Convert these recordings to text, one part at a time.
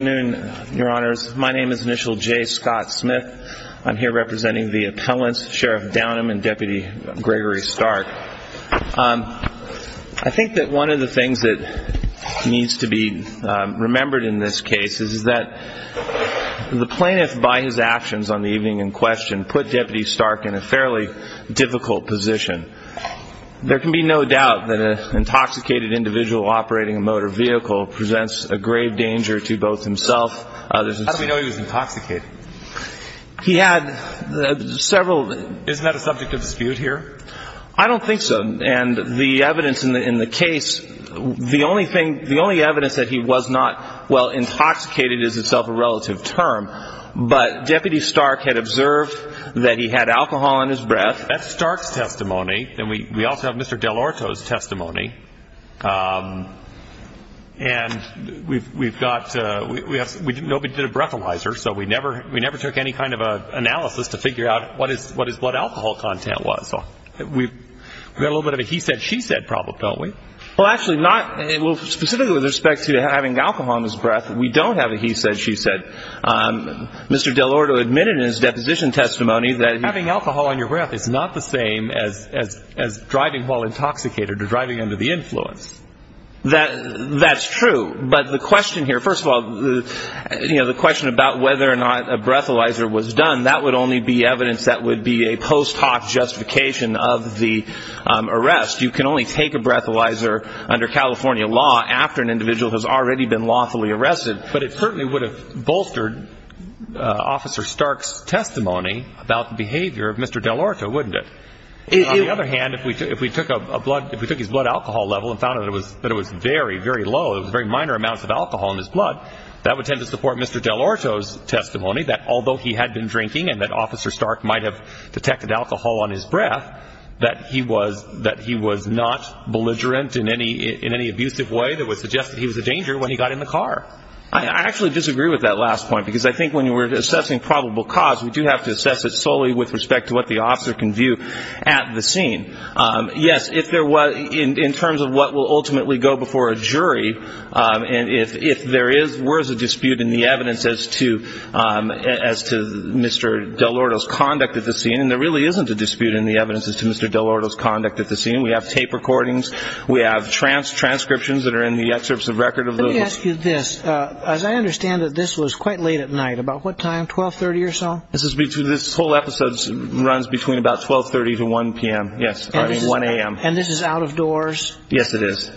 Good afternoon, your honors. My name is Initial J. Scott Smith. I'm here representing the appellants, Sheriff Downam and Deputy Gregory Stark. I think that one of the things that needs to be remembered in this case is that the plaintiff, by his actions on the evening in question, put Deputy Stark in a fairly difficult position. There can be no doubt that an intoxicated individual operating a motor vehicle presents a grave danger to both himself and others. How do we know he was intoxicated? He had several... Isn't that a subject of dispute here? I don't think so. And the evidence in the case, the only evidence that he was not, well, intoxicated is itself a relative term. But Deputy Stark had observed that he had alcohol in his breath. That's Stark's testimony. And we also have Mr. Dell'Orto's testimony. And we've got, nobody did a breathalyzer, so we never took any kind of analysis to figure out what alcohol content was. We've got a little bit of a he-said, she-said problem, don't we? Well, actually, not, specifically with respect to having alcohol in his breath, we don't have a he-said, she-said. Mr. Dell'Orto admitted in his deposition testimony that... as driving while intoxicated or driving under the influence. That's true. But the question here, first of all, you know, the question about whether or not a breathalyzer was done, that would only be evidence that would be a post hoc justification of the arrest. You can only take a breathalyzer under California law after an individual has already been lawfully arrested. But it certainly would have bolstered Officer Stark's testimony about the behavior of Mr. Dell'Orto, wouldn't it? On the other hand, if we took a blood, if we took his blood alcohol level and found that it was very, very low, it was very minor amounts of alcohol in his blood, that would tend to support Mr. Dell'Orto's testimony that although he had been drinking and that Officer Stark might have detected alcohol on his breath, that he was, that he was not belligerent in any, in any abusive way that would suggest that he was a danger when he got in the car. I actually disagree with that last point, because I think when we're assessing probable cause, we do have to assess it solely with respect to what the officer can view at the scene. Yes, if there was, in terms of what will ultimately go before a jury, and if there is, were as a dispute in the evidence as to, as to Mr. Dell'Orto's conduct at the scene, and there really isn't a dispute in the evidence as to Mr. Dell'Orto's conduct at the scene, we have tape recordings, we have transcriptions that are in the excerpts of record of those. Let me ask you this. As I understand it, this was quite late at night, about what time, 1230 or so? This is between, this whole episode runs between about 1230 to 1 p.m., yes, starting 1 a.m. And this is out of doors? Yes, it is.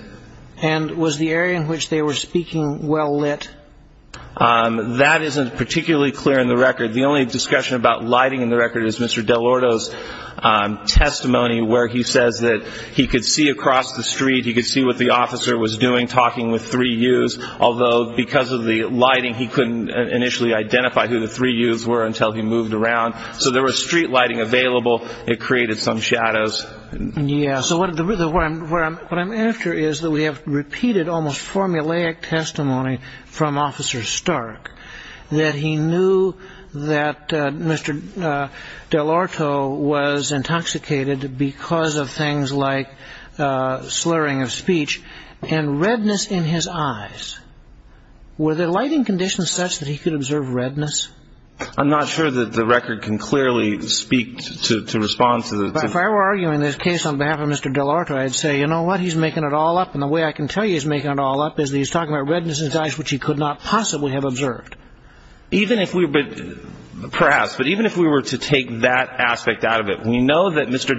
And was the area in which they were speaking well lit? That isn't particularly clear in the record. The only discussion about lighting in the record is Mr. Dell'Orto's testimony where he says that he could see across the street, he could see what the officer was doing, talking with three yous, although because of the lighting he couldn't initially identify who the three yous were until he moved around. So there was street lighting available, it created some shadows. Yes, so what I'm after is that we have repeated almost formulaic testimony from Officer Stark that he knew that Mr. Dell'Orto was intoxicated because of things like slurring of speech and redness in his eyes. Were the lighting conditions such that he could observe redness? I'm not sure that the record can clearly speak to respond to the... If I were arguing this case on behalf of Mr. Dell'Orto, I'd say, you know what, he's making it all up, and the way I can tell you he's making it all up is that he's talking about redness in his eyes which he could not possibly have observed. Even if we, perhaps, but even if we were to take that aspect out of it, we know that Mr.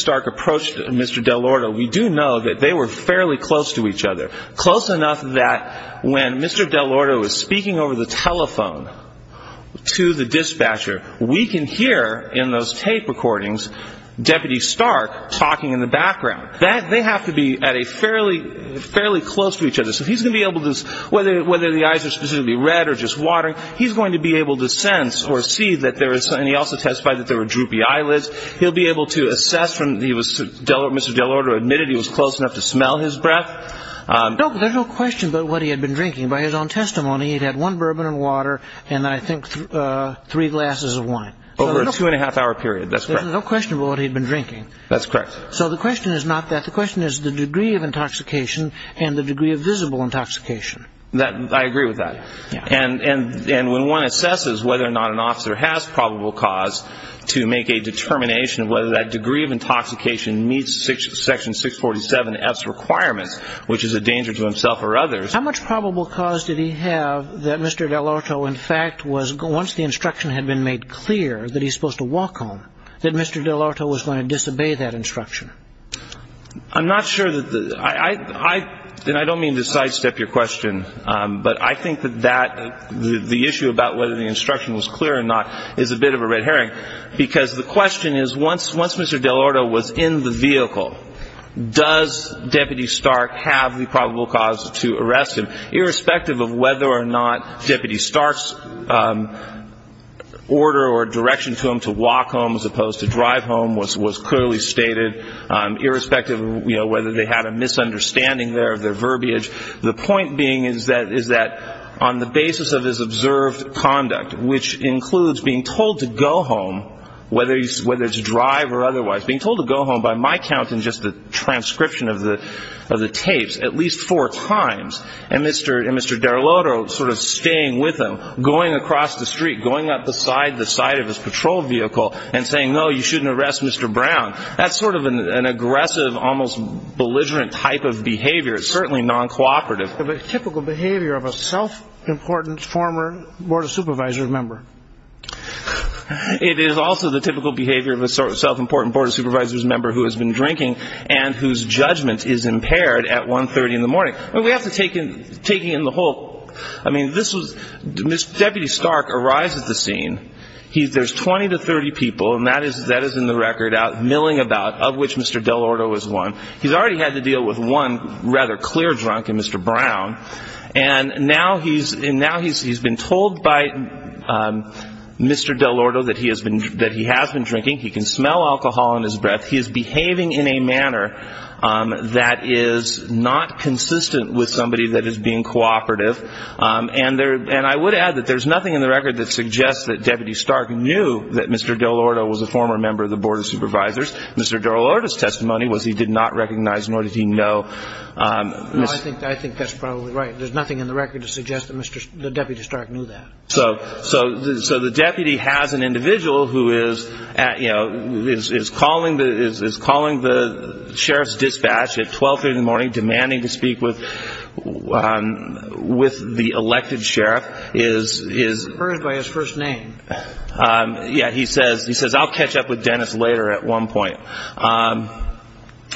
Stark approached Mr. Dell'Orto, we do know that they were fairly close to each other. Close enough that when Mr. Dell'Orto was speaking over the telephone to the dispatcher, we can hear in those tape recordings Deputy Stark talking in the background. That, they have to be at a fairly, fairly close to each other. So he's going to be able to, whether the eyes are specifically red or just watering, he's going to be able to sense or see that there is, he'll be able to assess from, he was, Mr. Dell'Orto admitted he was close enough to smell his breath. No, but there's no question about what he had been drinking. By his own testimony, he'd had one bourbon and water and I think three glasses of wine. Over a two and a half hour period, that's correct. There's no question about what he'd been drinking. That's correct. So the question is not that. The question is the degree of intoxication and the degree of visible intoxication. That, I agree with that. And when one assesses whether or not an officer has probable cause to make a determination of whether that degree of intoxication meets Section 647F's requirements, which is a danger to himself or others. How much probable cause did he have that Mr. Dell'Orto, in fact, was, once the instruction had been made clear that he's supposed to walk home, that Mr. Dell'Orto was going to disobey that instruction? I'm not sure that the, I, I, and I don't mean to sidestep your question, but I think that the issue about whether the instruction was clear or not is a bit of a red herring. Because the question is, once, once Mr. Dell'Orto was in the vehicle, does Deputy Stark have the probable cause to arrest him? Irrespective of whether or not Deputy Stark's order or direction to him to walk home as opposed to drive home was, was clearly stated. Irrespective of, you know, whether they had a misunderstanding there of their verbiage. The point being is that, is that on the basis of his observed conduct, which includes being told to go home, whether he's, whether it's drive or otherwise, being told to go home by my count in just the transcription of the, of the tapes, at least four times, and Mr., and Mr. Dell'Orto sort of staying with him, going across the street, going up the side, the side of his patrol vehicle, and saying, no, you shouldn't arrest Mr. Brown. That's sort of an, an aggressive, almost belligerent type of behavior. It's certainly non-cooperative. It's the typical behavior of a self-important former Board of Supervisors member. It is also the typical behavior of a sort of self-important Board of Supervisors member who has been drinking and whose judgment is impaired at 1.30 in the morning. I mean, we have to take in, taking in the whole, I mean, this was, Deputy Stark arrives at the scene. He's, there's 20 to 30 people, and that is, that is in the record milling about, of which Mr. Dell'Orto is one. He's already had to deal with one rather clear drunk in Mr. Brown, and now he's, and now he's, he's been told by Mr. Dell'Orto that he has been, that he has been drinking. He can smell alcohol in his breath. He is behaving in a manner that is not consistent with somebody that is being cooperative. And there, and I would add that there's nothing in the record that suggests that Deputy Stark knew that Mr. Dell'Orto was a former member of the Board of Supervisors. Mr. Dell'Orto's testimony was he did not recognize, nor did he know. No, I think, I think that's probably right. There's nothing in the record to suggest that Mr., that Deputy Stark knew that. So, so, so the deputy has an individual who is at, you know, is, is calling the, is, is calling the sheriff's dispatch at 1230 in the morning, demanding to speak with, with the elected sheriff. Is, is. He's referred by his first name. Yeah, he says, he says, I'll catch up with Dennis later at one point.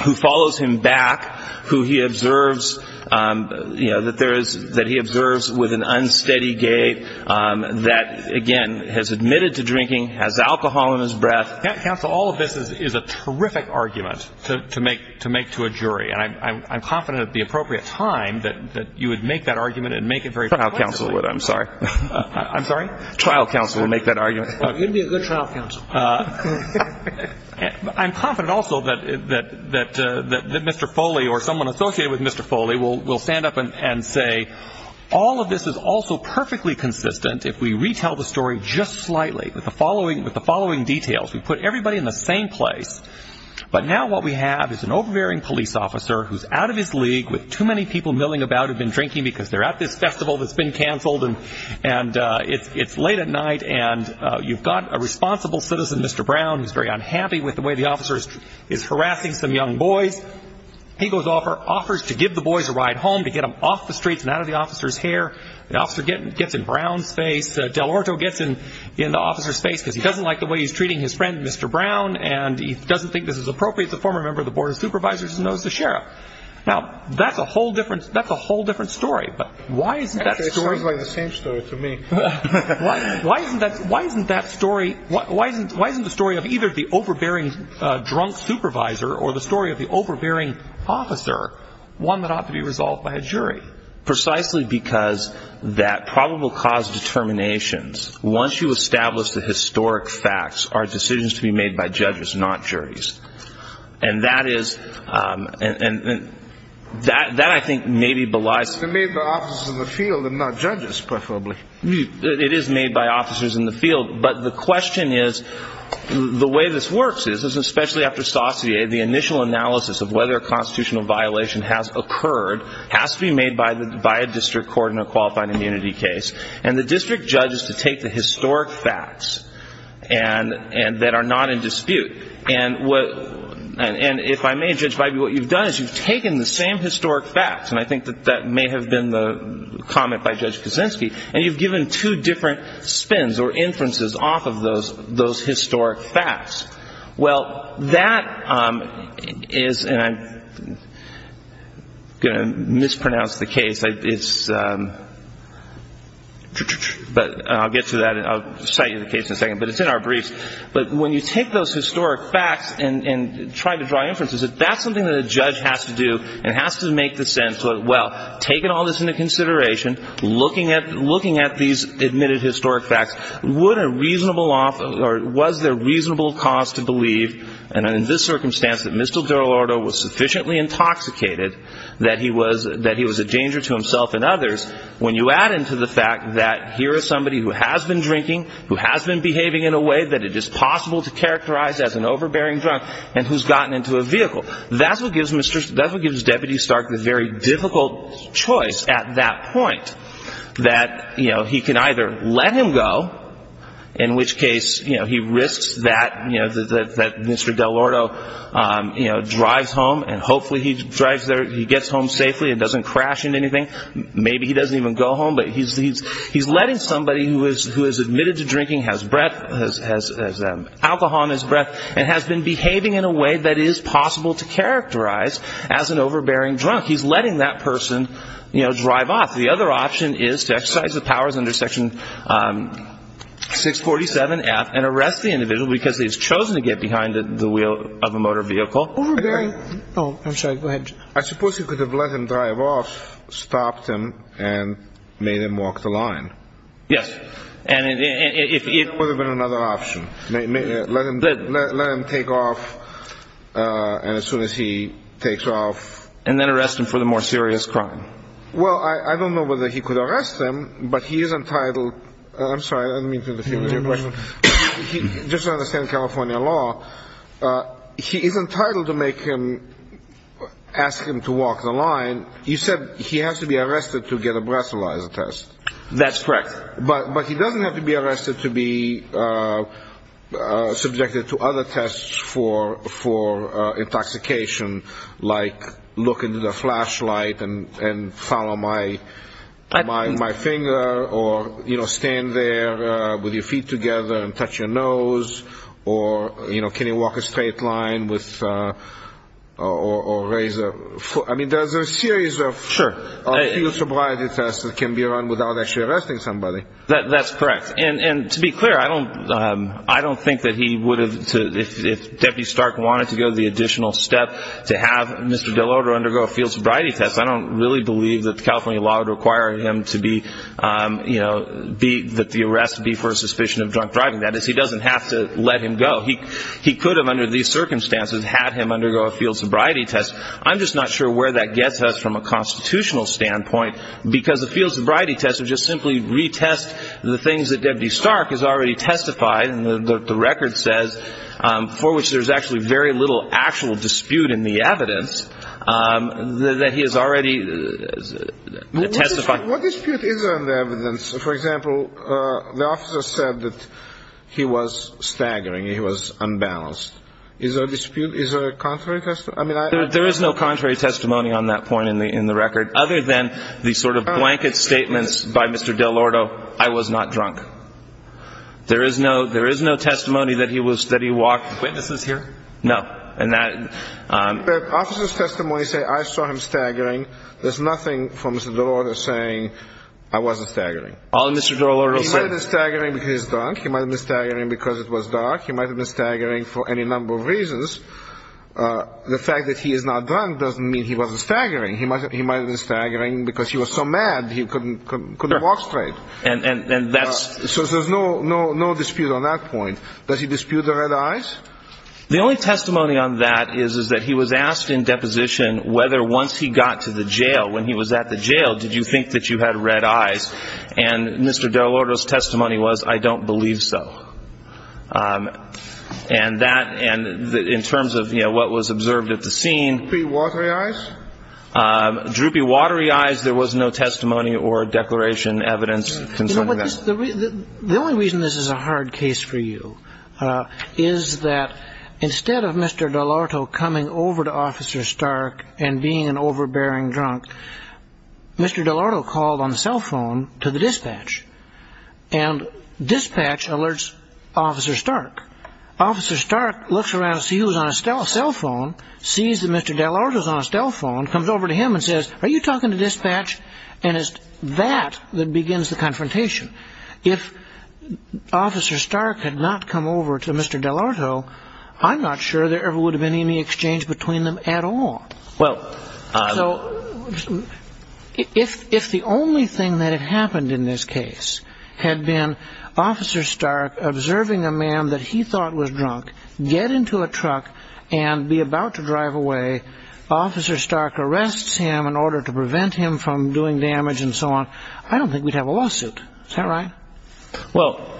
Who follows him back, who he observes, you know, that there is, that he observes with an unsteady gait, that again, has admitted to drinking, has alcohol in his breath. Counsel, all of this is, is a terrific argument to, to make, to make to a jury. And I'm, I'm, I'm confident at the appropriate time that, that you would make that argument and make it very. I'm sorry. I'm sorry. I'm sorry. Trial counsel will make that argument. You'd be a good trial counsel. I'm confident also that, that, that, that Mr. Foley or someone associated with Mr. Foley will, will stand up and say, all of this is also perfectly consistent if we retell the story just slightly with the following, with the following details, we put everybody in the same place. But now what we have is an overbearing police officer who's out of his league with too many people milling about who've been drinking because they're at this festival that's been canceled and, and it's, it's late at night and you've got a responsible citizen, Mr. Brown, who's very unhappy with the way the officer is, is harassing some young boys. He goes offer, offers to give the boys a ride home, to get them off the streets and out of the officer's hair. The officer gets, gets in Brown's face. Del Orto gets in, in the officer's face because he doesn't like the way he's treating his friend, Mr. Brown, and he doesn't think this is appropriate. The former member of the Board of Supervisors knows the sheriff. Now that's a whole different, that's a whole different story. But why isn't that story, why isn't that, why isn't that story, why isn't, why isn't the story of either the overbearing drunk supervisor or the story of the overbearing officer, one that ought to be resolved by a jury? Precisely because that problem will cause determinations once you establish the historic facts are decisions to be made by judges, not juries. And that is, um, and, and, and that, that I think maybe belies. It's made by officers in the field and not judges, preferably. It is made by officers in the field. But the question is, the way this works is, is especially after Saussure, the initial analysis of whether a constitutional violation has occurred has to be made by the, by a district court in a qualified immunity case. And the district judges to take the historic facts and, and that are not in dispute. And what, and, and if I may, Judge Bybee, what you've done is you've taken the same historic facts, and I think that that may have been the comment by Judge Kuczynski, and you've given two different spins or inferences off of those, those historic facts. Well, that, um, is, and I'm going to mispronounce the case. I, it's, um, but I'll get to that and I'll cite you the case in a second, but it's in our briefs. But when you take those historic facts and, and try to draw inferences, if that's something that a judge has to do and has to make the sense of, well, taking all this into consideration, looking at, looking at these admitted historic facts, would a reasonable, or was there reasonable cause to believe, and in this circumstance that Mr. Delorto was sufficiently intoxicated that he was, that he was a danger to himself and others, when you add into the fact that here is somebody who has been drinking, who has been behaving in a way that it is possible to characterize as an overbearing drunk, and who's gotten into a vehicle. That's what gives Mr., that's what gives Deputy Stark the very difficult choice at that point, that, you know, he can either let him go, in which case, you know, he risks that, you know, that, that, that Mr. Delorto, um, you know, drives home and hopefully he drives there, he gets home safely and doesn't crash into anything. Maybe he doesn't even go home, but he's, he's, he's letting somebody who is, who is admitted to drinking, has breath, has, has, um, alcohol in his breath, and has been behaving in a way that is possible to characterize as an overbearing drunk. He's letting that person, you know, drive off. The other option is to exercise the powers under section, um, 647F and arrest the individual because he's chosen to get behind the wheel of a motor vehicle. Oh, I'm sorry, go ahead. I suppose you could have let him drive off, stopped him and made him walk the line. Yes. And if it would have been another option, let him, let him take off. Uh, and as soon as he takes off and then arrest him for the more serious crime. Well, I, I don't know whether he could arrest him, but he is entitled. I'm sorry. I didn't mean to interfere with your question. Just to understand California law. Uh, he is entitled to make him, ask him to walk the line. You said he has to be arrested to get a breathalyzer test. That's correct. But, but he doesn't have to be arrested to be, uh, uh, subjected to other tests for, for, uh, intoxication, like look into the flashlight and, and follow my, my, my finger or, you know, stand there, uh, with your feet together and touch your nose or, you know, can he walk a straight line with, uh, or, or raise a foot? I mean, there's a series of field sobriety tests that can be run without actually arresting somebody. That that's correct. And, and to be clear, I don't, um, I don't think that he would have to, if, if deputy Stark wanted to go the additional step to have Mr. Delorto undergo a field sobriety test. I don't really believe that California law would require him to be, um, you know, be that the arrest would be for a suspicion of drunk driving. That is, he doesn't have to let him go. He, he could have under these circumstances had him undergo a field sobriety test. I'm just not sure where that gets us from a constitutional standpoint, because the field sobriety test would just simply retest the things that deputy Stark has already testified. And the, the record says, um, for which there's actually very little actual dispute in the evidence, um, that he has already testified. What dispute is on the evidence? For example, uh, the officer said that he was staggering. He was unbalanced. Is there a dispute? Is there a contrary test? I mean, there is no contrary testimony on that point in the, in the record, other than the sort of blanket statements by Mr. Delorto, I was not drunk. There is no, there is no testimony that he was, that he walked. Witnesses here? No. And that, um, officer's testimony say I saw him staggering. There's nothing from Mr. Delorto saying I wasn't staggering. All in Mr. Delorto said staggering because he's drunk. He might've been staggering because it was dark. He might've been staggering for any number of reasons. Uh, the fact that he is not drunk doesn't mean he wasn't staggering. He might've, he might've been staggering because he was so mad. He couldn't, couldn't, couldn't walk straight. And, and, and that's, so there's no, no, no dispute on that point. Does he dispute the red eyes? The only testimony on that is, is that he was asked in deposition whether once he got to the jail, when he was at the jail, did you think that you had red eyes? And Mr. Delorto's testimony was, I don't believe so. Um, and that, and in terms of, you know, what was observed at the scene, droopy, watery eyes, there was no testimony or declaration evidence. The only reason this is a hard case for you, uh, is that instead of Mr. Delorto coming over to officer Stark and being an overbearing drunk, Mr. Delorto called on the cell phone to the dispatch and dispatch alerts officer Stark, officer Stark looks around, see who's on a cell phone, sees that Mr. Delorto's on a cell phone, comes over to him and says, are you talking to dispatch? And it's that that begins the confrontation. If officer Stark had not come over to Mr. Delorto, I'm not sure there ever would have been any exchange between them at all. Well, uh, if, if the only thing that had happened in this case had been officer Stark observing a man that he thought was drunk, get into a truck and be about to drive away, officer Stark arrests him in order to prevent him from doing damage and so on, I don't think we'd have a lawsuit. Is that right? Well,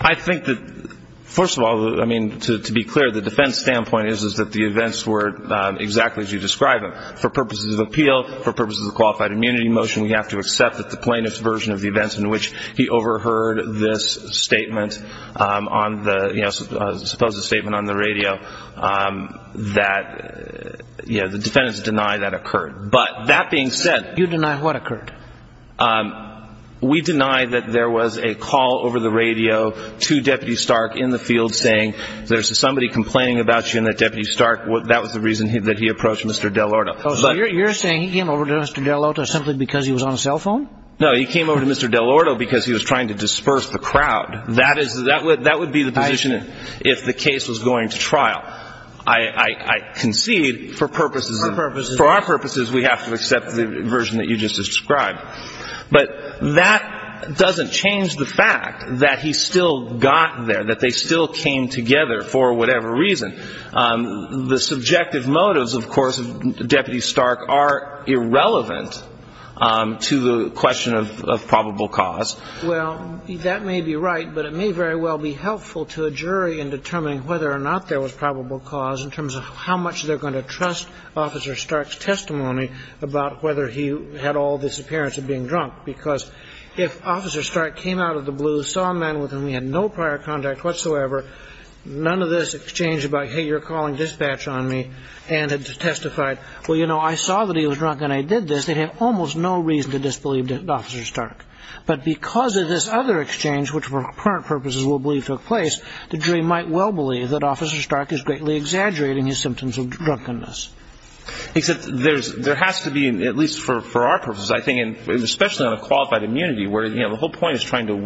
I think that first of all, I mean, to, to be clear, the defense standpoint is, is that the events were exactly as you described them for purposes of appeal, for purposes of qualified immunity motion, we have to accept that the plaintiff's version of the events in which he overheard this statement, um, on the, you know, suppose the statement on the radio, um, that, you know, the defendants deny that occurred. But that being said, you deny what occurred? Um, we deny that there was a call over the radio to deputy Stark in the field saying there's somebody complaining about you and that deputy Stark, that was the reason that he approached Mr. Delorto. So you're saying he came over to Mr. Delorto simply because he was on a cell phone? No, he came over to Mr. Delorto because he was trying to disperse the crowd. That is, that would, that would be the position if the case was going to trial. I concede for purposes, for our purposes, we have to accept the version that you just described, but that doesn't change the fact that he still got there, that they still came together for whatever reason. Um, the subjective motives of course, deputy Stark are irrelevant, um, to the question of, of probable cause. Well, that may be right, but it may very well be helpful to a jury in determining whether or not there was probable cause in terms of how much they're going to trust officer Stark's testimony about whether he had all this appearance of being drunk. Because if officer Stark came out of the blue, saw a man with whom he had no prior contact whatsoever, none of this exchange about, Hey, you're calling dispatch on me and had testified, well, you know, I saw that he was drunk and I did this. They have almost no reason to disbelieve that officer Stark, but because of this other exchange, which for current purposes will believe took place, the jury might well believe that officer Stark is greatly exaggerating his symptoms of drunkenness. Except there's, there has to be, at least for, for our purposes, I think, and especially on a qualified immunity where, you know, the whole point is trying to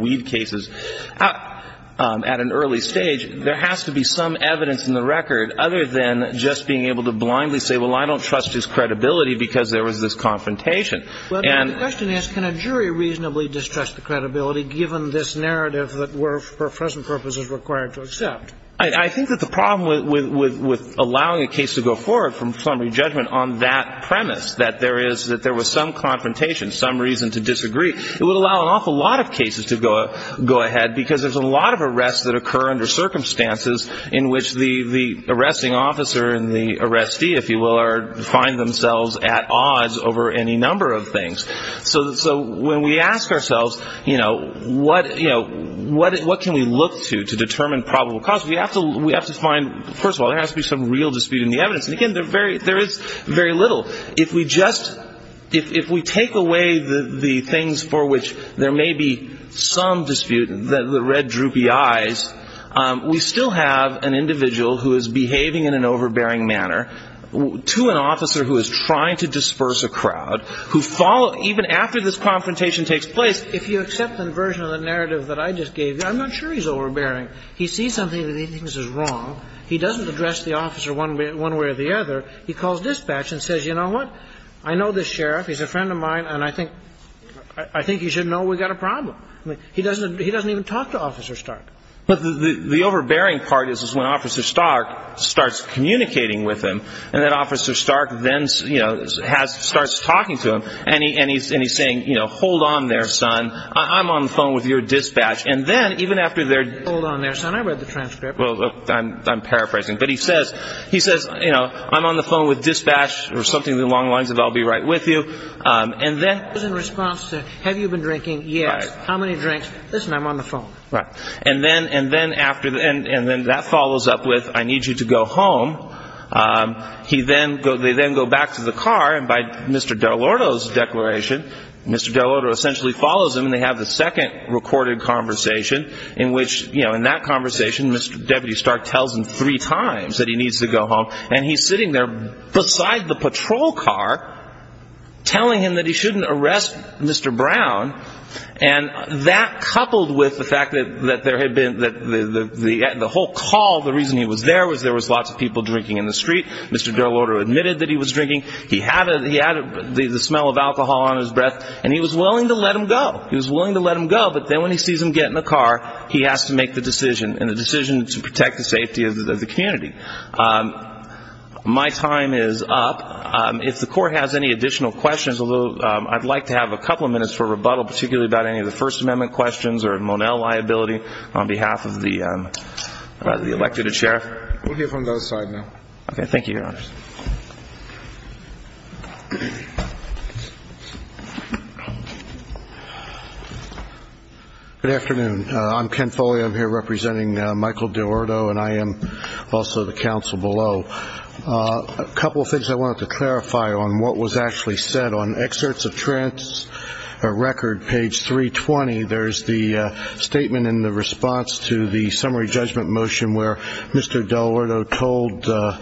at an early stage, there has to be some evidence in the record other than just being able to blindly say, well, I don't trust his credibility because there was this confrontation. And the question is, can a jury reasonably distrust the credibility given this narrative that were for present purposes required to accept? I think that the problem with, with, with allowing a case to go forward from summary judgment on that premise, that there is, that there was some confrontation, some reason to disagree, it would allow an awful lot of cases to go, go ahead because there's a lot of arrests that occur under circumstances in which the, the arresting officer and the arrestee, if you will, are, find themselves at odds over any number of things. So, so when we ask ourselves, you know, what, you know, what, what can we look to, to determine probable cause? We have to, we have to find, first of all, there has to be some real dispute in the evidence. And again, they're very, there is very little. If we just, if, if we take away the, the things for which there may be some dispute, the red droopy eyes, we still have an individual who is behaving in an overbearing manner to an officer who is trying to disperse a crowd, who follow, even after this confrontation takes place. If you accept the version of the narrative that I just gave you, I'm not sure he's overbearing. He sees something that he thinks is wrong. He doesn't address the officer one way or the other. He calls dispatch and says, you know what, I know this sheriff, he's a friend of mine, and I think, I think he should know we've got a problem. I mean, he doesn't, he doesn't even talk to officer Stark. But the, the, the overbearing part is, is when officer Stark starts communicating with him and that officer Stark then, you know, has, starts talking to him and he, and he's, and he's saying, you know, hold on there, son, I'm on the phone with your dispatch. And then even after they're, hold on there, son, I read the transcript. Well, I'm, I'm paraphrasing, but he says, he says, you know, I'm on the phone with dispatch or something along the lines of, I'll be right with you. And then in response to, have you been drinking? Yes. How many drinks? Listen, I'm on the phone. Right. And then, and then after the end, and then that follows up with, I need you to go home. He then go, they then go back to the car and by Mr. Delorto's declaration, Mr. Delorto essentially follows him and they have the second recorded conversation in which, you know, in that conversation, Mr. Deputy Stark tells him three times that he needs to go home. And he's sitting there beside the patrol car telling him that he shouldn't arrest Mr. Brown. And that coupled with the fact that, that there had been, that the, the, the, the whole call, the reason he was there was there was lots of people drinking in the street. Mr. Delorto admitted that he was drinking. He had a, he had the smell of alcohol on his breath and he was willing to let him go. He was willing to let him go. But then when he sees him get in the car, he has to make the decision and the decision to protect the safety of the community. Um, my time is up. Um, if the court has any additional questions, although, um, I'd like to have a couple of minutes for rebuttal, particularly about any of the first amendment questions or Monell liability on behalf of the, um, uh, the elected sheriff, we'll hear from those side now. Okay. Thank you. Your honor. Good afternoon. Uh, I'm Ken Foley. I'm here representing, uh, Michael Delorto and I am also the council below, uh, a couple of things I wanted to clarify on what was actually said on excerpts of trends, a record page three 20. There's the, uh, statement in the response to the summary judgment motion where Mr. Delorto told, uh,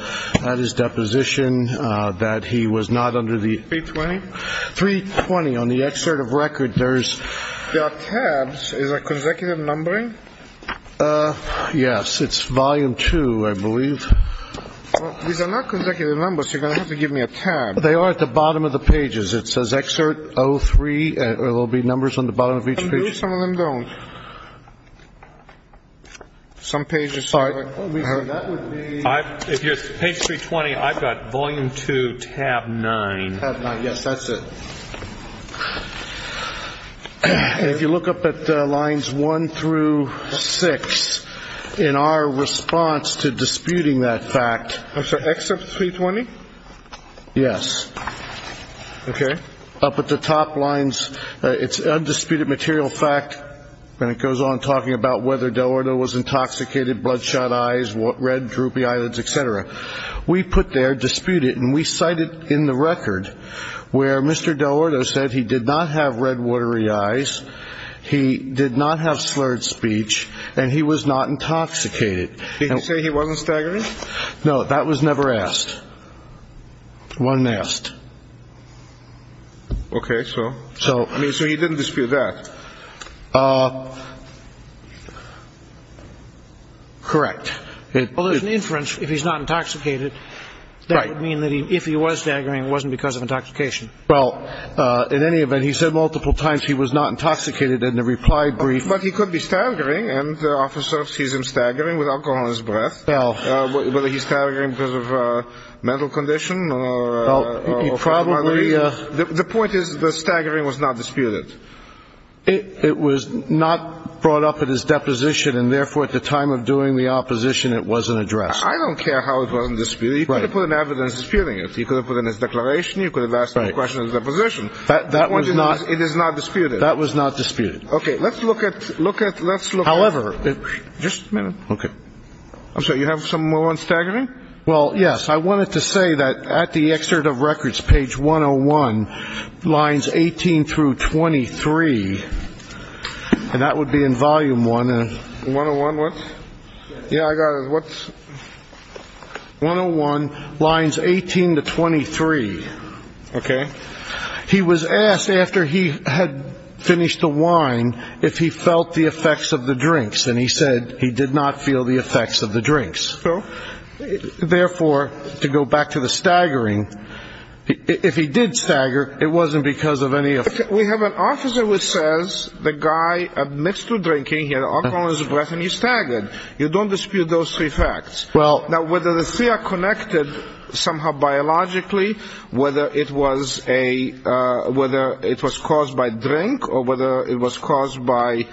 at his deposition, uh, that he was not under the three 20, three 20 on the excerpt of record. There's tabs. Is that consecutive numbering? Uh, yes, it's volume two. I believe these are not consecutive numbers. You're going to have to give me a tab. They are at the bottom of the pages. It says excerpt Oh three, or there'll be numbers on the bottom of each page. Some of them don't. Some pages. Sorry. If you're page three 20, I've got volume two tab nine. Yes. That's it. If you look up at the lines one through six in our response to disputing that fact, I'm sorry, excerpt three 20. Yes. Okay. Up at the top lines, it's undisputed material fact, and it goes on talking about whether Delorto was intoxicated, bloodshot eyes, red droopy eyelids, et cetera, we put their dispute it. And we cited in the record where Mr. Delorto said he did not have red watery eyes. He did not have slurred speech and he was not intoxicated. He didn't say he wasn't staggering. No, that was never asked one nest. Okay. So, so, I mean, so he didn't dispute that. Uh, correct. It was an inference. If he's not intoxicated, that would mean that he, if he was staggering, it wasn't because of intoxication. Well, uh, in any event, he said multiple times, he was not intoxicated in the reply brief. But he could be staggering. And the officer sees him staggering with alcohol on his breath. Now, whether he's staggering because of a mental condition, the point is the staggering was not disputed. It was not brought up at his deposition. And therefore at the time of doing the opposition, it wasn't addressed. I don't care how it wasn't disputed. You could have put an evidence disputing it. You could have put in his declaration. You could have asked the question of the position that it is not disputed. That was not disputed. Okay. Let's look at, look at, let's look. However, just a minute. Okay. I'm sorry. You have some more on staggering? Well, yes. I wanted to say that at the excerpt of records page one Oh one lines 18 through 23, and that would be in volume one. One Oh one. What's yeah, I got it. What's one Oh one lines 18 to 23. Okay. He was asked after he had finished the wine, if he felt the effects of the drinks and he said he did not feel the effects of the drinks. Therefore, to go back to the staggering, if he did stagger, it wasn't because of any, we have an officer who says the guy admits to drinking alcohol is a breath and you staggered, you don't dispute those three facts now, whether the three connected somehow biologically, whether it was a, uh, whether it was caused by drink or whether it was caused by,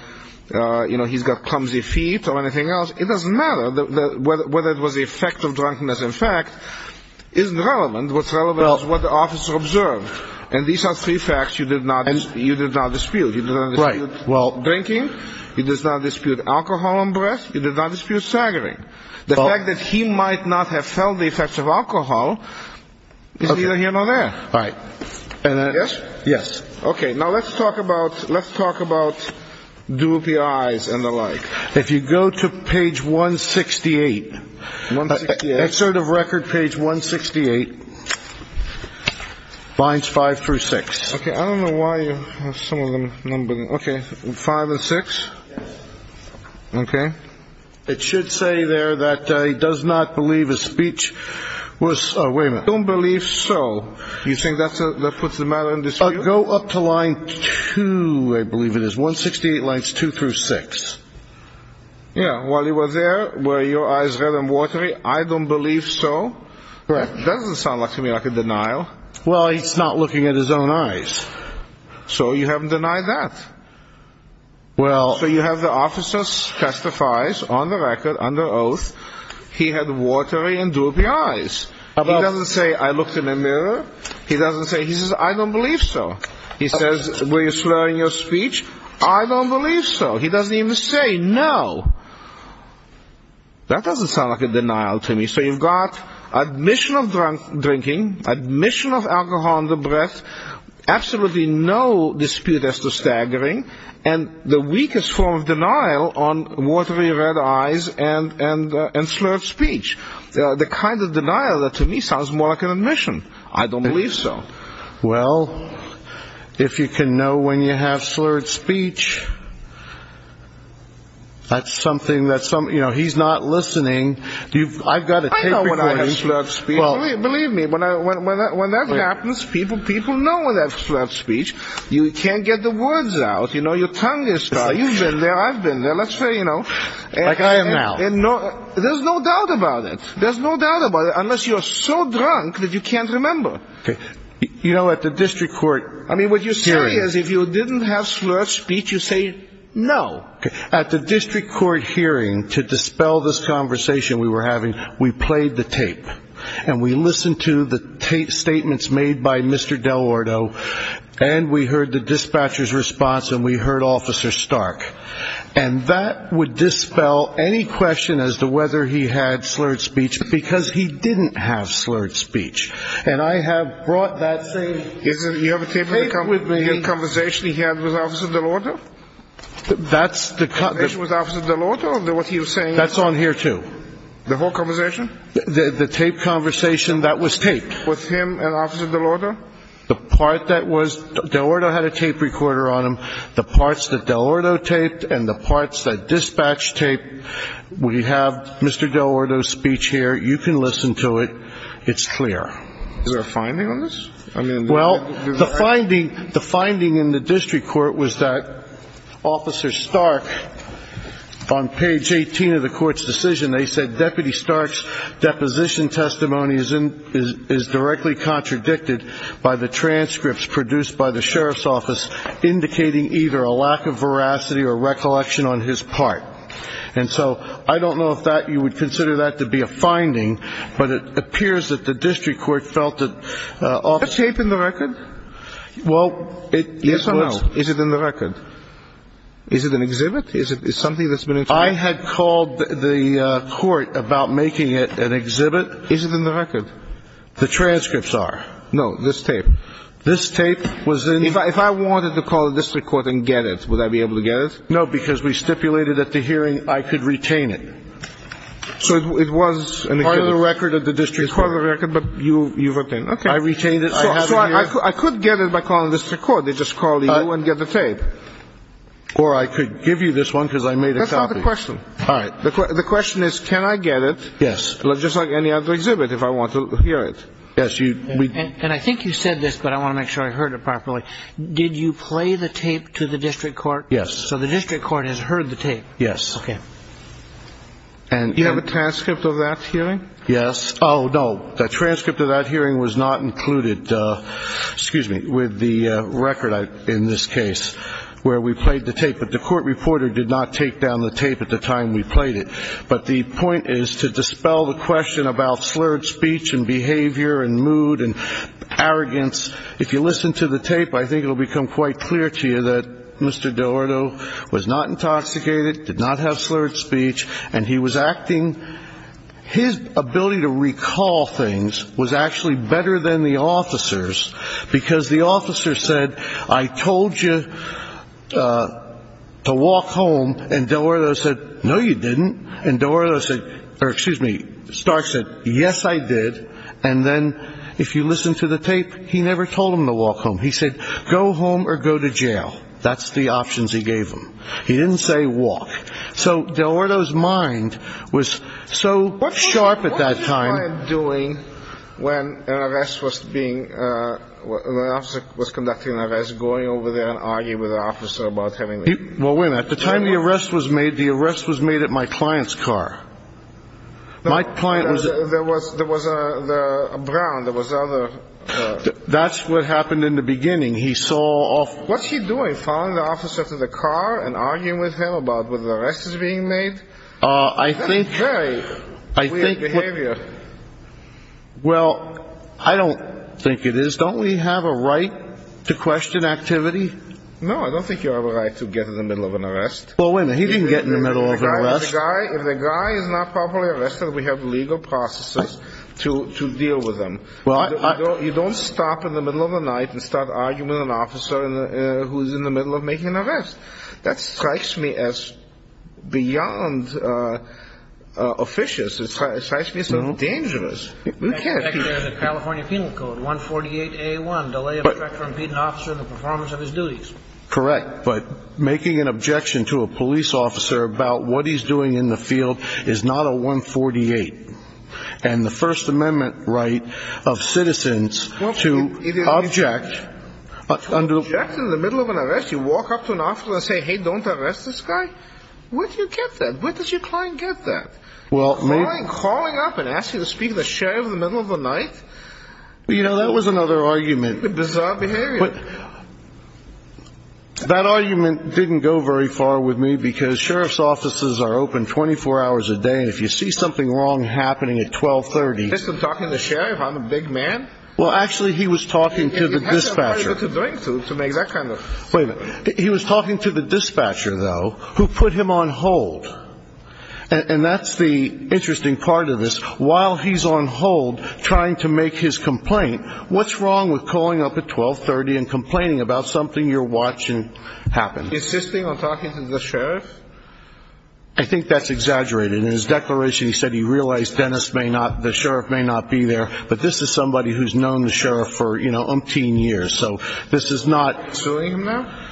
uh, you know, he's got clumsy feet or anything else. It doesn't matter whether it was the effect of drunkenness. In fact, isn't relevant. What's relevant is what the officer observed. And these are three facts. You did not, you did not dispute drinking. He does not dispute alcohol and breath. You did not dispute staggering. The fact that he might not have felt the effects of alcohol is either here or there. Right. And then yes, yes. Okay. Now let's talk about, let's talk about do PIs and the like. If you go to page one 68, that sort of record page one 68 binds five through six. Okay. I don't know why you have some of them numbered. Okay. Five and six. Okay. It should say there that, uh, he does not believe his speech was, uh, wait a minute. Don't believe. So you think that's a, that puts the matter in this, go up to line two. I believe it is one 68 lines two through six. Yeah. While he was there, where your eyes are watery. I don't believe so. Correct. Doesn't sound like to me like a denial. Well, he's not looking at his own eyes. So you haven't denied that. Well, so you have the officers testifies on the record under oath. He had watery and do PIs about, let's say I looked in a mirror. He doesn't say he says, I don't believe so. He says, were you slurring your speech? I don't believe so. He doesn't even say no. That doesn't sound like a denial to me. So you've got admission of drunk drinking admission of alcohol on the breath. Absolutely. No dispute as to staggering and the weakest form of denial on watery red eyes and, and, uh, and slurred speech, the kind of denial that to me sounds more like an admission. I don't believe so. Well, if you can know when you have slurred speech, that's something that's something, you know, he's not listening. Do you, I've got a tape before he slurred speech. Believe me, when I, when I, when that happens, people, people know that slurred speech, you can't get the words out. You know, your tongue is, you've been there. I've been there. Let's say, you know, there's no doubt about it. There's no doubt about it. Unless you're so drunk that you can't remember, you know, at the district court, I mean, what you say is if you didn't have slurred speech, you say no. At the district court hearing to dispel this conversation we were having, we played the tape and we listened to the tape statements made by Mr. Delorto and we heard the dispatcher's response and we heard officer Stark and that would dispel any question as to whether he had slurred speech because he didn't have slurred speech. And I have brought that same tape with me. Conversation he had with officer Delorto? That's the conversation with officer Delorto, what he was saying. That's on here too. The whole conversation? The tape conversation that was taped. With him and officer Delorto? The part that was, Delorto had a tape recorder on him. The parts that Delorto taped and the parts that dispatch taped. We have Mr. Delorto's speech here. You can listen to it. It's clear. Is there a finding on this? I mean, well, the finding, the finding in the district court was that officer Stark, on page 18 of the court's decision, they said deputy Stark's deposition testimony is directly contradicted by the transcripts produced by the sheriff's office, indicating either a lack of veracity or recollection on his part. And so I don't know if that you would consider that to be a finding, but it appears that the district court felt that, uh, tape in the record. Well, is it in the record? Is it an exhibit? Is it something that's been, I had called the court about making it an exhibit. Is it in the record? The transcripts are no, this tape, this tape was in, if I wanted to call the district court and get it, would I be able to get it? No, because we stipulated at the hearing, I could retain it. So it was part of the record of the district record, but you, you've obtained. Okay. I retained it. So I could get it by calling the district court. They just called you and get the tape. Or I could give you this one. Cause I made a copy question. All right. The question is, can I get it? Yes. Let's just like any other exhibit. If I want to hear it. Yes. You, and I think you said this, but I want to make sure I heard it properly. Did you play the tape to the district court? Yes. So the district court has heard the tape. Yes. Okay. And you have a transcript of that hearing? Yes. Oh, no. The transcript of that hearing was not included. Excuse me with the record in this case where we played the tape, but the court reporter did not take down the tape at the time we played it. But the point is to dispel the question about slurred speech and behavior and mood and arrogance. If you listen to the tape, I think it'll become quite clear to you that Mr. Dorado was not intoxicated, did not have slurred speech, and he was acting. His ability to recall things was actually better than the officers because the officer said, I told you to walk home and Dorado said, no, you didn't. And Dorado said, or excuse me, Stark said, yes, I did. And then if you listen to the tape, he never told him to walk home. He said, go home or go to jail. That's the options he gave them. He didn't say walk. So Dorado's mind was so sharp at that time doing when an arrest was being the officer was conducting an arrest, going over there and argue with the officer about having. Well, when at the time the arrest was made, the arrest was made at my client's car. My client was there was there was a brown. There was other. That's what happened in the beginning. He saw off. What's he doing? Following the officer to the car and arguing with him about whether the rest is being made. I think I think behavior. Well, I don't think it is. Don't we have a right to question activity? No, I don't think you have a right to get in the middle of an arrest. Well, when he didn't get in the middle of the guy, if the guy is not properly arrested, we have legal processes to to deal with them. Well, you don't stop in the middle of the night and start arguing with an officer who is in the middle of making an arrest. That strikes me as beyond officious. It strikes me as a little dangerous. We can't. California Penal Code one forty eight a one delay for an officer in the performance of his duties. Correct. But making an objection to a police officer about what he's doing in the field is not a one forty eight and the First Amendment right of citizens to object under the middle of an arrest. You walk up to an officer and say, hey, don't arrest this guy. What do you get that? What does your client get that? Well, I'm calling up and ask you to speak to the sheriff in the middle of the night. Well, you know, that was another argument. Bizarre behavior. That argument didn't go very far with me because sheriff's offices are open 24 hours a day. And if you see something wrong happening at 1230, I'm talking to sheriff. I'm a big man. Well, actually, he was talking to the dispatcher to make that kind of he was talking to the dispatcher, though, who put him on hold. And that's the interesting part of this. While he's on hold trying to make his complaint, what's wrong with calling up at 1230 and complaining about something you're watching happen? Insisting on talking to the sheriff. I think that's exaggerated in his declaration, he said he realized Dennis may the sheriff may not be there, but this is somebody who's known the sheriff for umpteen years. So this is not. Suing him now?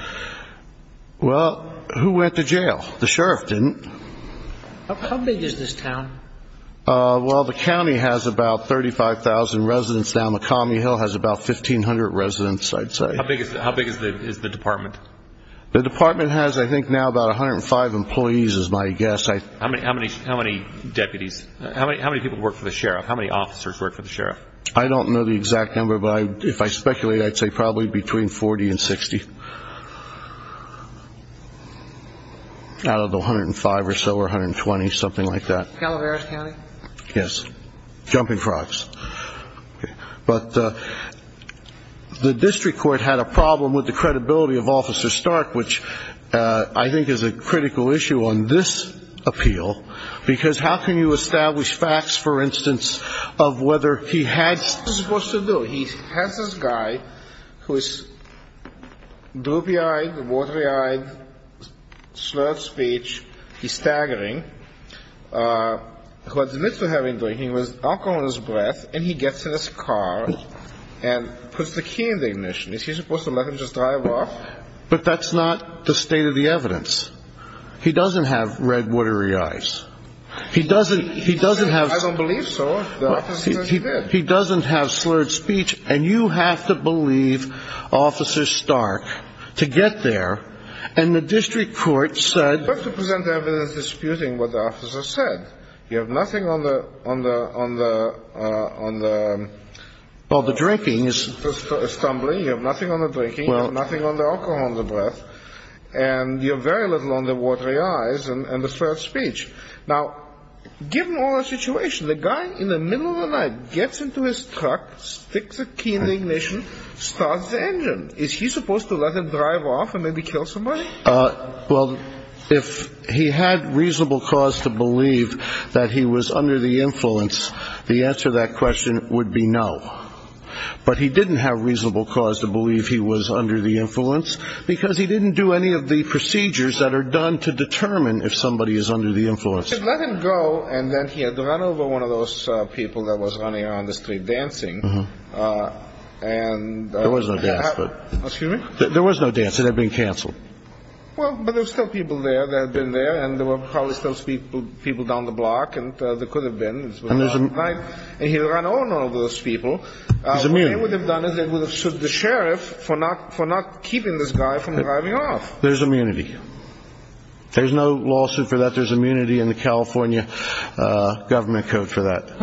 Well, who went to jail? The sheriff didn't. How big is this town? Well, the county has about thirty five thousand residents. Now, Macomb Hill has about fifteen hundred residents, I'd say. How big is how big is the department? The department has, I think, now about one hundred and five employees is my guess. How many how many how many deputies? How many how many people work for the sheriff? How many officers work for the sheriff? I don't know the exact number, but if I speculate, I'd say probably between 40 and 60. Out of the 105 or so or 120, something like that. Calaveras County? Yes. Jumping frogs. But the district court had a problem with the credibility of Officer Stark, which I think is a critical issue on this appeal, because how can you establish facts, for instance, of whether he had supposed to do? He has this guy who is droopy eyed, watery eyed, slurred speech. He's staggering. Who admits to having drinking was alcohol in his breath. And he gets in his car and puts the key in the ignition. Is he supposed to let him just drive off? But that's not the state of the evidence. He doesn't have red, watery eyes. He doesn't. He doesn't have. I don't believe so. He doesn't have slurred speech. And you have to believe Officer Stark to get there. And the district court said to present evidence disputing what the officer said. You have nothing on the on the on the on the. Well, the drinking is stumbling. You have nothing on the drinking, nothing on the alcohol in the breath. And you're very little on the watery eyes and the slurred speech. Now, given all the situation, the guy in the middle of the night gets into his truck, sticks a key in the ignition, starts the engine. Is he supposed to let him drive off and maybe kill somebody? Well, if he had reasonable cause to believe that he was under the influence, the answer to that question would be no. But he didn't have reasonable cause to believe he was under the influence because he didn't do any of the procedures that are done to determine if somebody is under the influence. Let him go. And then he had to run over one of those people that was running on the street dancing. And there was no gas, but there was no dancing. They've been canceled. Well, but there's still people there that have been there. And there were probably still people, people down the block. And there could have been. And there's a guy and he ran over those people. I mean, what they would have done is they would have sued the sheriff for not for not keeping this guy from driving off. There's immunity. There's no lawsuit for that. There's immunity in the California government code for that. The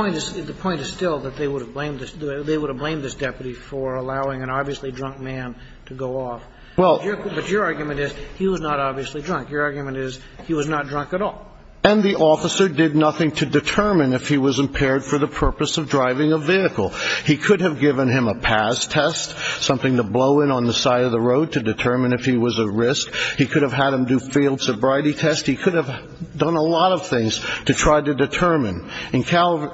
point is still that they would have blamed they would have blamed this deputy for allowing an obviously drunk man to go off. Well, but your argument is he was not obviously drunk. Your argument is he was not drunk at all. And the officer did nothing to determine if he was impaired for the purpose of driving a vehicle. He could have given him a pass test, something to blow in on the side of the road to determine if he was a risk. He could have had him do field sobriety test. He could have done a lot of things to try to determine in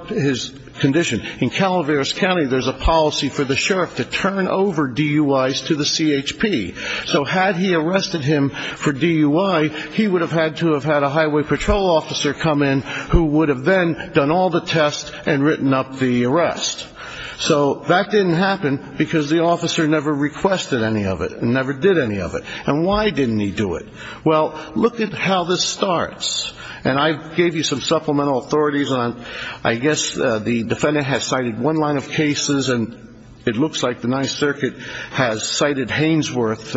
his condition. In Calaveras County, there's a policy for the sheriff to turn over DUIs to the CHP. So had he arrested him for DUI, he would have had to have had a highway patrol officer come in who would have then done all the tests and written up the arrest. So that didn't happen because the officer never requested any of it and never did any of it. And why didn't he do it? Well, look at how this starts. And I gave you some supplemental authorities on I guess the defendant has cited one line of cases and it looks like the Ninth Circuit has cited Hainsworth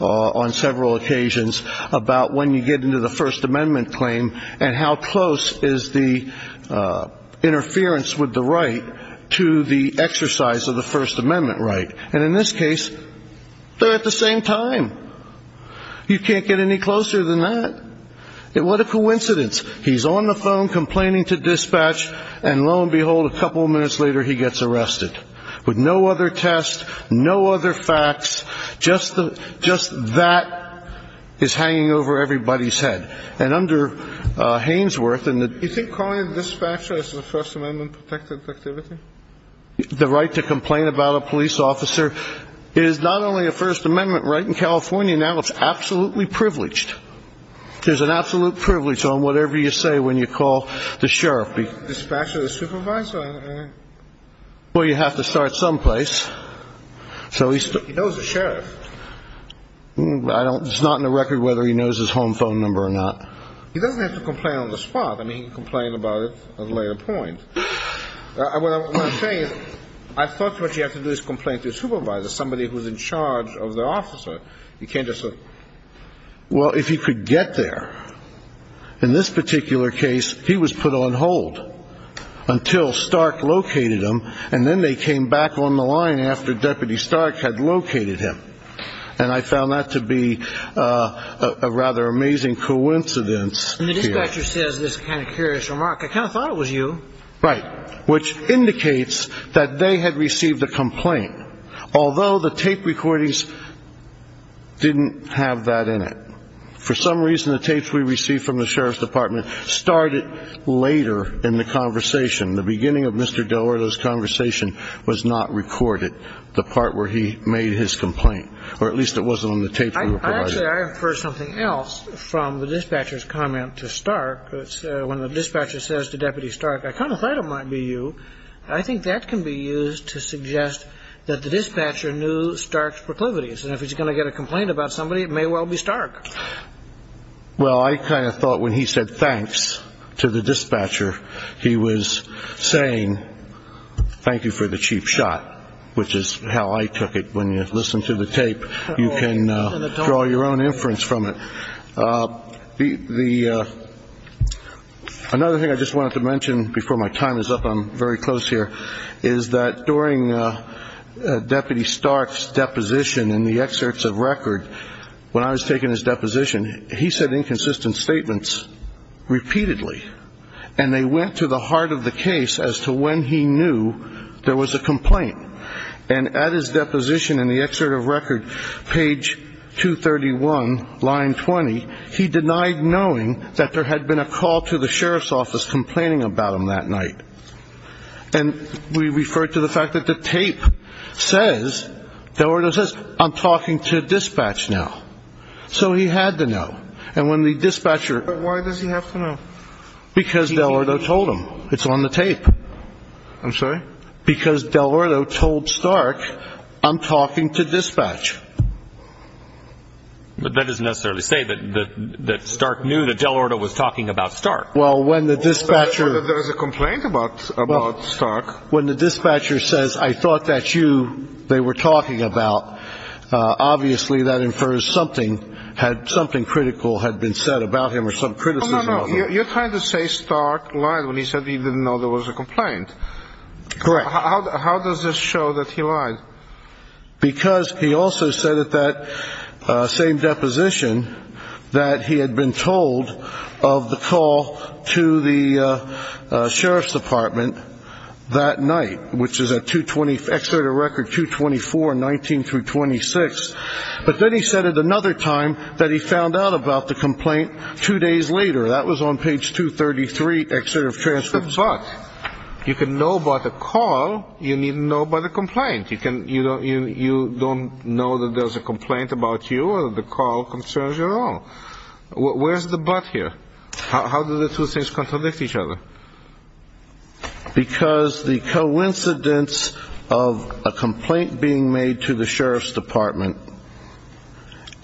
on several occasions about when you get into the First Amendment claim and how close is the interference with the right to the exercise of the First Amendment right. And in this case, they're at the same time. You can't get any closer than that. And what a coincidence. He's on the phone complaining to dispatch. And lo and behold, a couple of minutes later, he gets arrested with no other test, no other facts. Just the just that is hanging over everybody's head. And under Hainsworth. You think calling a dispatcher is the First Amendment protected activity? The right to complain about a police officer is not only a First Amendment right in California now, it's absolutely privileged. There's an absolute privilege on whatever you say when you call the sheriff. Dispatcher, the supervisor. Well, you have to start someplace. So he knows the sheriff. I don't it's not in the record whether he knows his home phone number or not. He doesn't have to complain on the spot. I mean, he can complain about it at a later point. What I'm saying is I thought what you have to do is complain to a supervisor, somebody who's in charge of the officer. You can't just say, well, if he could get there in this particular case, he was put on hold until Stark located him. And then they came back on the line after Deputy Stark had located him. And I found that to be a rather amazing coincidence. And the dispatcher says this kind of curious remark, I kind of thought it was you. Right. Which indicates that they had received a complaint, although the tape recordings didn't have that in it. For some reason, the tapes we received from the sheriff's department started later in the conversation. The beginning of Mr. Delorto's conversation was not recorded. The part where he made his complaint, or at least it wasn't on the tape. I infer something else from the dispatcher's comment to Stark. When the dispatcher says to Deputy Stark, I kind of thought it might be you. I think that can be used to suggest that the dispatcher knew Stark's proclivities. And if he's going to get a complaint about somebody, it may well be Stark. Well, I kind of thought when he said thanks to the dispatcher, he was saying thank you for the cheap shot, which is how I took it. When you listen to the tape, you can draw your own inference from it. The another thing I just wanted to mention before my time is up, I'm very close here, is that during Deputy Stark's deposition in the excerpts of record, when I was taking his deposition, he said inconsistent statements repeatedly, and they went to the heart of the case as to when he knew there was a complaint. And at his deposition in the excerpt of record, page 231, line 20, he denied knowing that there had been a call to the sheriff's office complaining about him that night. And we refer to the fact that the tape says, Del Ordo says, I'm talking to dispatch now. So he had to know. And when the dispatcher. But why does he have to know? Because Del Ordo told him. It's on the tape. I'm sorry? Because Del Ordo told Stark, I'm talking to dispatch. But that doesn't necessarily say that Stark knew that Del Ordo was talking about Stark. Well, when the dispatcher. There was a complaint about about Stark. When the dispatcher says, I thought that you they were talking about. Obviously, that infers something had something critical had been said about him or some criticism. You're trying to say Stark lied when he said he didn't know there was a complaint. Correct. How does this show that he lied? Because he also said that that same deposition that he had been told of the call to the sheriff's department that night, which is a 220 excerpt of record 224 19 through 26. But then he said it another time that he found out about the complaint two days later. That was on page 233. Excerpt of transfer. But you can know about the call. You need to know about the complaint. You can you don't you don't know that there's a complaint about you or the call concerns you at all. Where's the but here? How do the two things contradict each other? Because the coincidence of a complaint being made to the sheriff's department.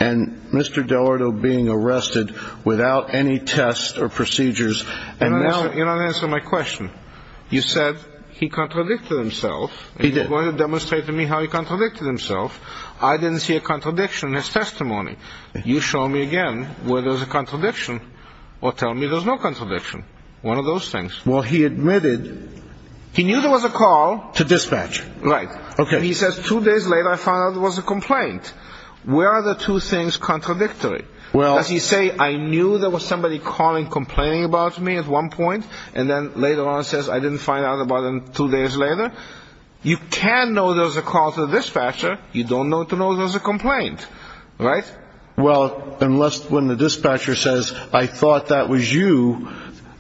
And Mr. Del Ordo being arrested without any tests or procedures. And now you don't answer my question. You said he contradicted himself. He did want to demonstrate to me how he contradicted himself. I didn't see a contradiction in his testimony. You show me again where there's a contradiction or tell me there's no contradiction. One of those things. Well, he admitted he knew there was a call to dispatch. Right. OK. He says two days later, I found out it was a complaint. Where are the two things contradictory? Well, as you say, I knew there was somebody calling complaining about me at one point. And then later on, it says I didn't find out about him two days later. You can know there's a call to the dispatcher. You don't know to know there's a complaint. Right. Well, unless when the dispatcher says, I thought that was you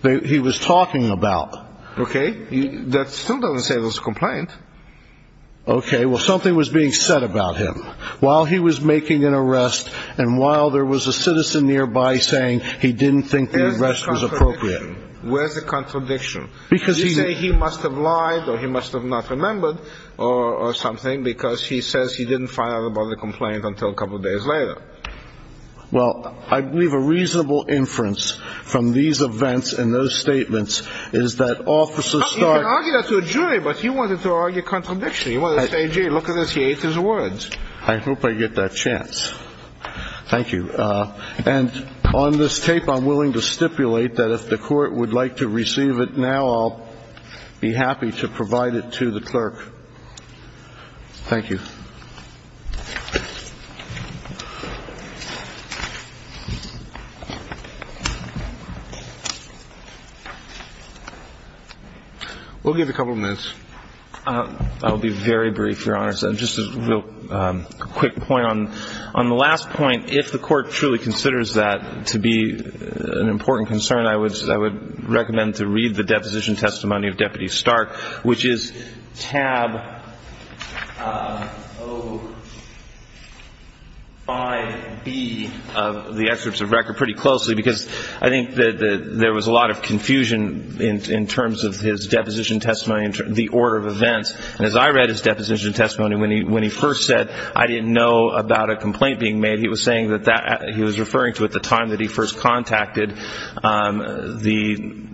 that he was talking about. OK. That still doesn't say it was a complaint. OK. Well, something was being said about him while he was making an arrest. And while there was a citizen nearby saying he didn't think the arrest was appropriate. Where's the contradiction? Because you say he must have lied or he must have not remembered or something because he says he didn't find out about the complaint until a couple of days later. Well, I believe a reasonable inference from these events and those statements is that officers start arguing that to a jury. But he wanted to argue contradiction. He wanted to say, gee, look at this. He ate his words. I hope I get that chance. Thank you. And on this tape, I'm willing to stipulate that if the court would like to receive it now, I'll be happy to provide it to the clerk. Thank you. We'll give a couple of minutes. I'll be very brief, Your Honor. Just a real quick point on the last point. If the court truly considers that to be an important concern, I would recommend to read the deposition testimony of Deputy Stark, which is tab. Oh. I be of the excerpts of record pretty closely because I think that there was a lot of confusion in terms of his deposition testimony, the order of events. And as I read his deposition testimony, when he when he first said, I didn't know about a complaint being made, he was saying that he was referring to at the time that he first contacted the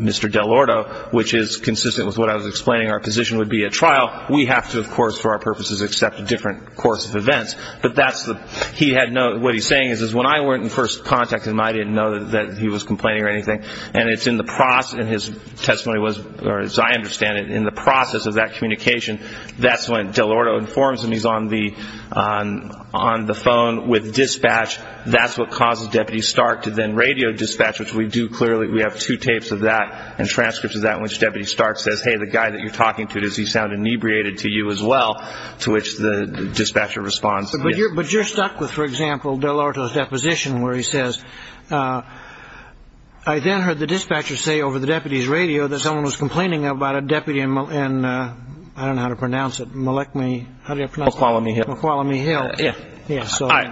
Mr. Delorto, which is consistent with what I was explaining. Our position would be a trial. We have to, of course, for our purposes, accept a different course of events. But that's the he had no what he's saying is, is when I went and first contacted him, I didn't know that he was complaining or anything. And it's in the process. And his testimony was, as I understand it, in the process of that communication. That's when Delorto informs him he's on the on on the phone with dispatch. That's what causes Deputy Stark to then radio dispatch, which we do. Clearly, we have two tapes of that and transcripts of that, which Deputy Stark says, hey, the guy that you're talking to, does he sound inebriated to you as well? To which the dispatcher responds, but you're but you're stuck with, for example, Delorto's deposition, where he says, I then heard the dispatcher say over the deputy's radio that someone was complaining about a deputy and I don't know how to pronounce it. Malik me. How do you follow me? McCallum Hill. Yeah. Yeah. So I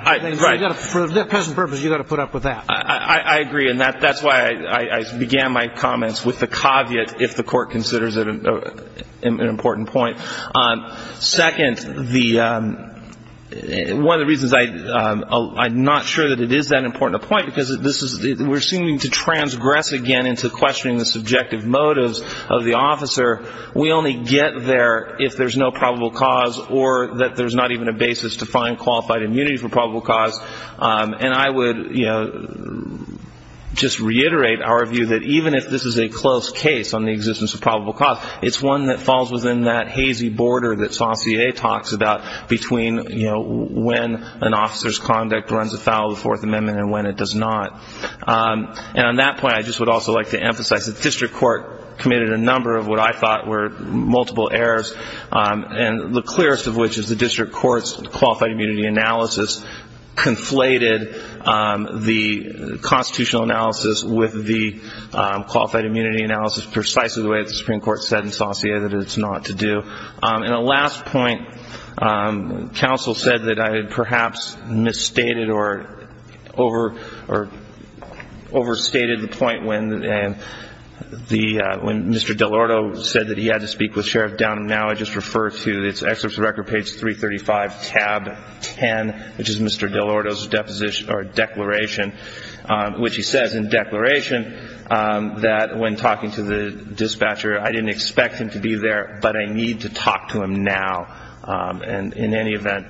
got it for the present purpose. You got to put up with that. I agree. And that that's why I began my comments with the caveat. If the court considers it an important point on second, the one of the reasons I I'm not sure that it is that important a point because this is we're seeming to transgress again into questioning the subjective motives of the officer. We only get there if there's no probable cause or that there's not even a basis to find qualified immunity for probable cause. And I would just reiterate our view that even if this is a close case on the existence of probable cause, it's one that falls within that hazy border that Saucier talks about between when an officer's conduct runs afoul of the Fourth Amendment and when it does not. And on that point, I just would also like to emphasize that the district court committed a number of what I thought were multiple errors, and the clearest of which is the district court's qualified immunity analysis conflated the constitutional analysis with the qualified immunity analysis, precisely the way the Supreme Court said in Saucier that it's not to do. And a last point, counsel said that I had perhaps misstated or over or overstated the point when the when Mr. DeLorto said that he had to speak with Sheriff down. Now, I just refer to this record page three thirty five tab and which is Mr. DeLorto's deposition or declaration, which he says in declaration that when talking to the dispatcher, I didn't expect him to be there, but I need to talk to him now. And in any event,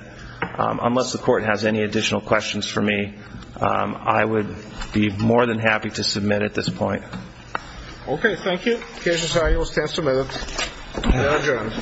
unless the court has any additional questions for me, I would be more than happy to submit at this point. OK, thank you. Here's how you will stand submitted. And.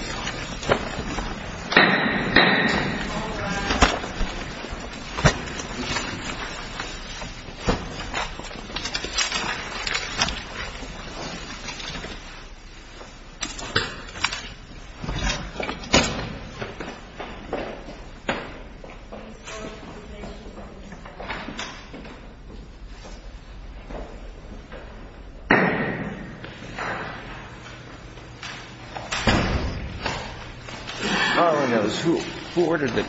Who who ordered the.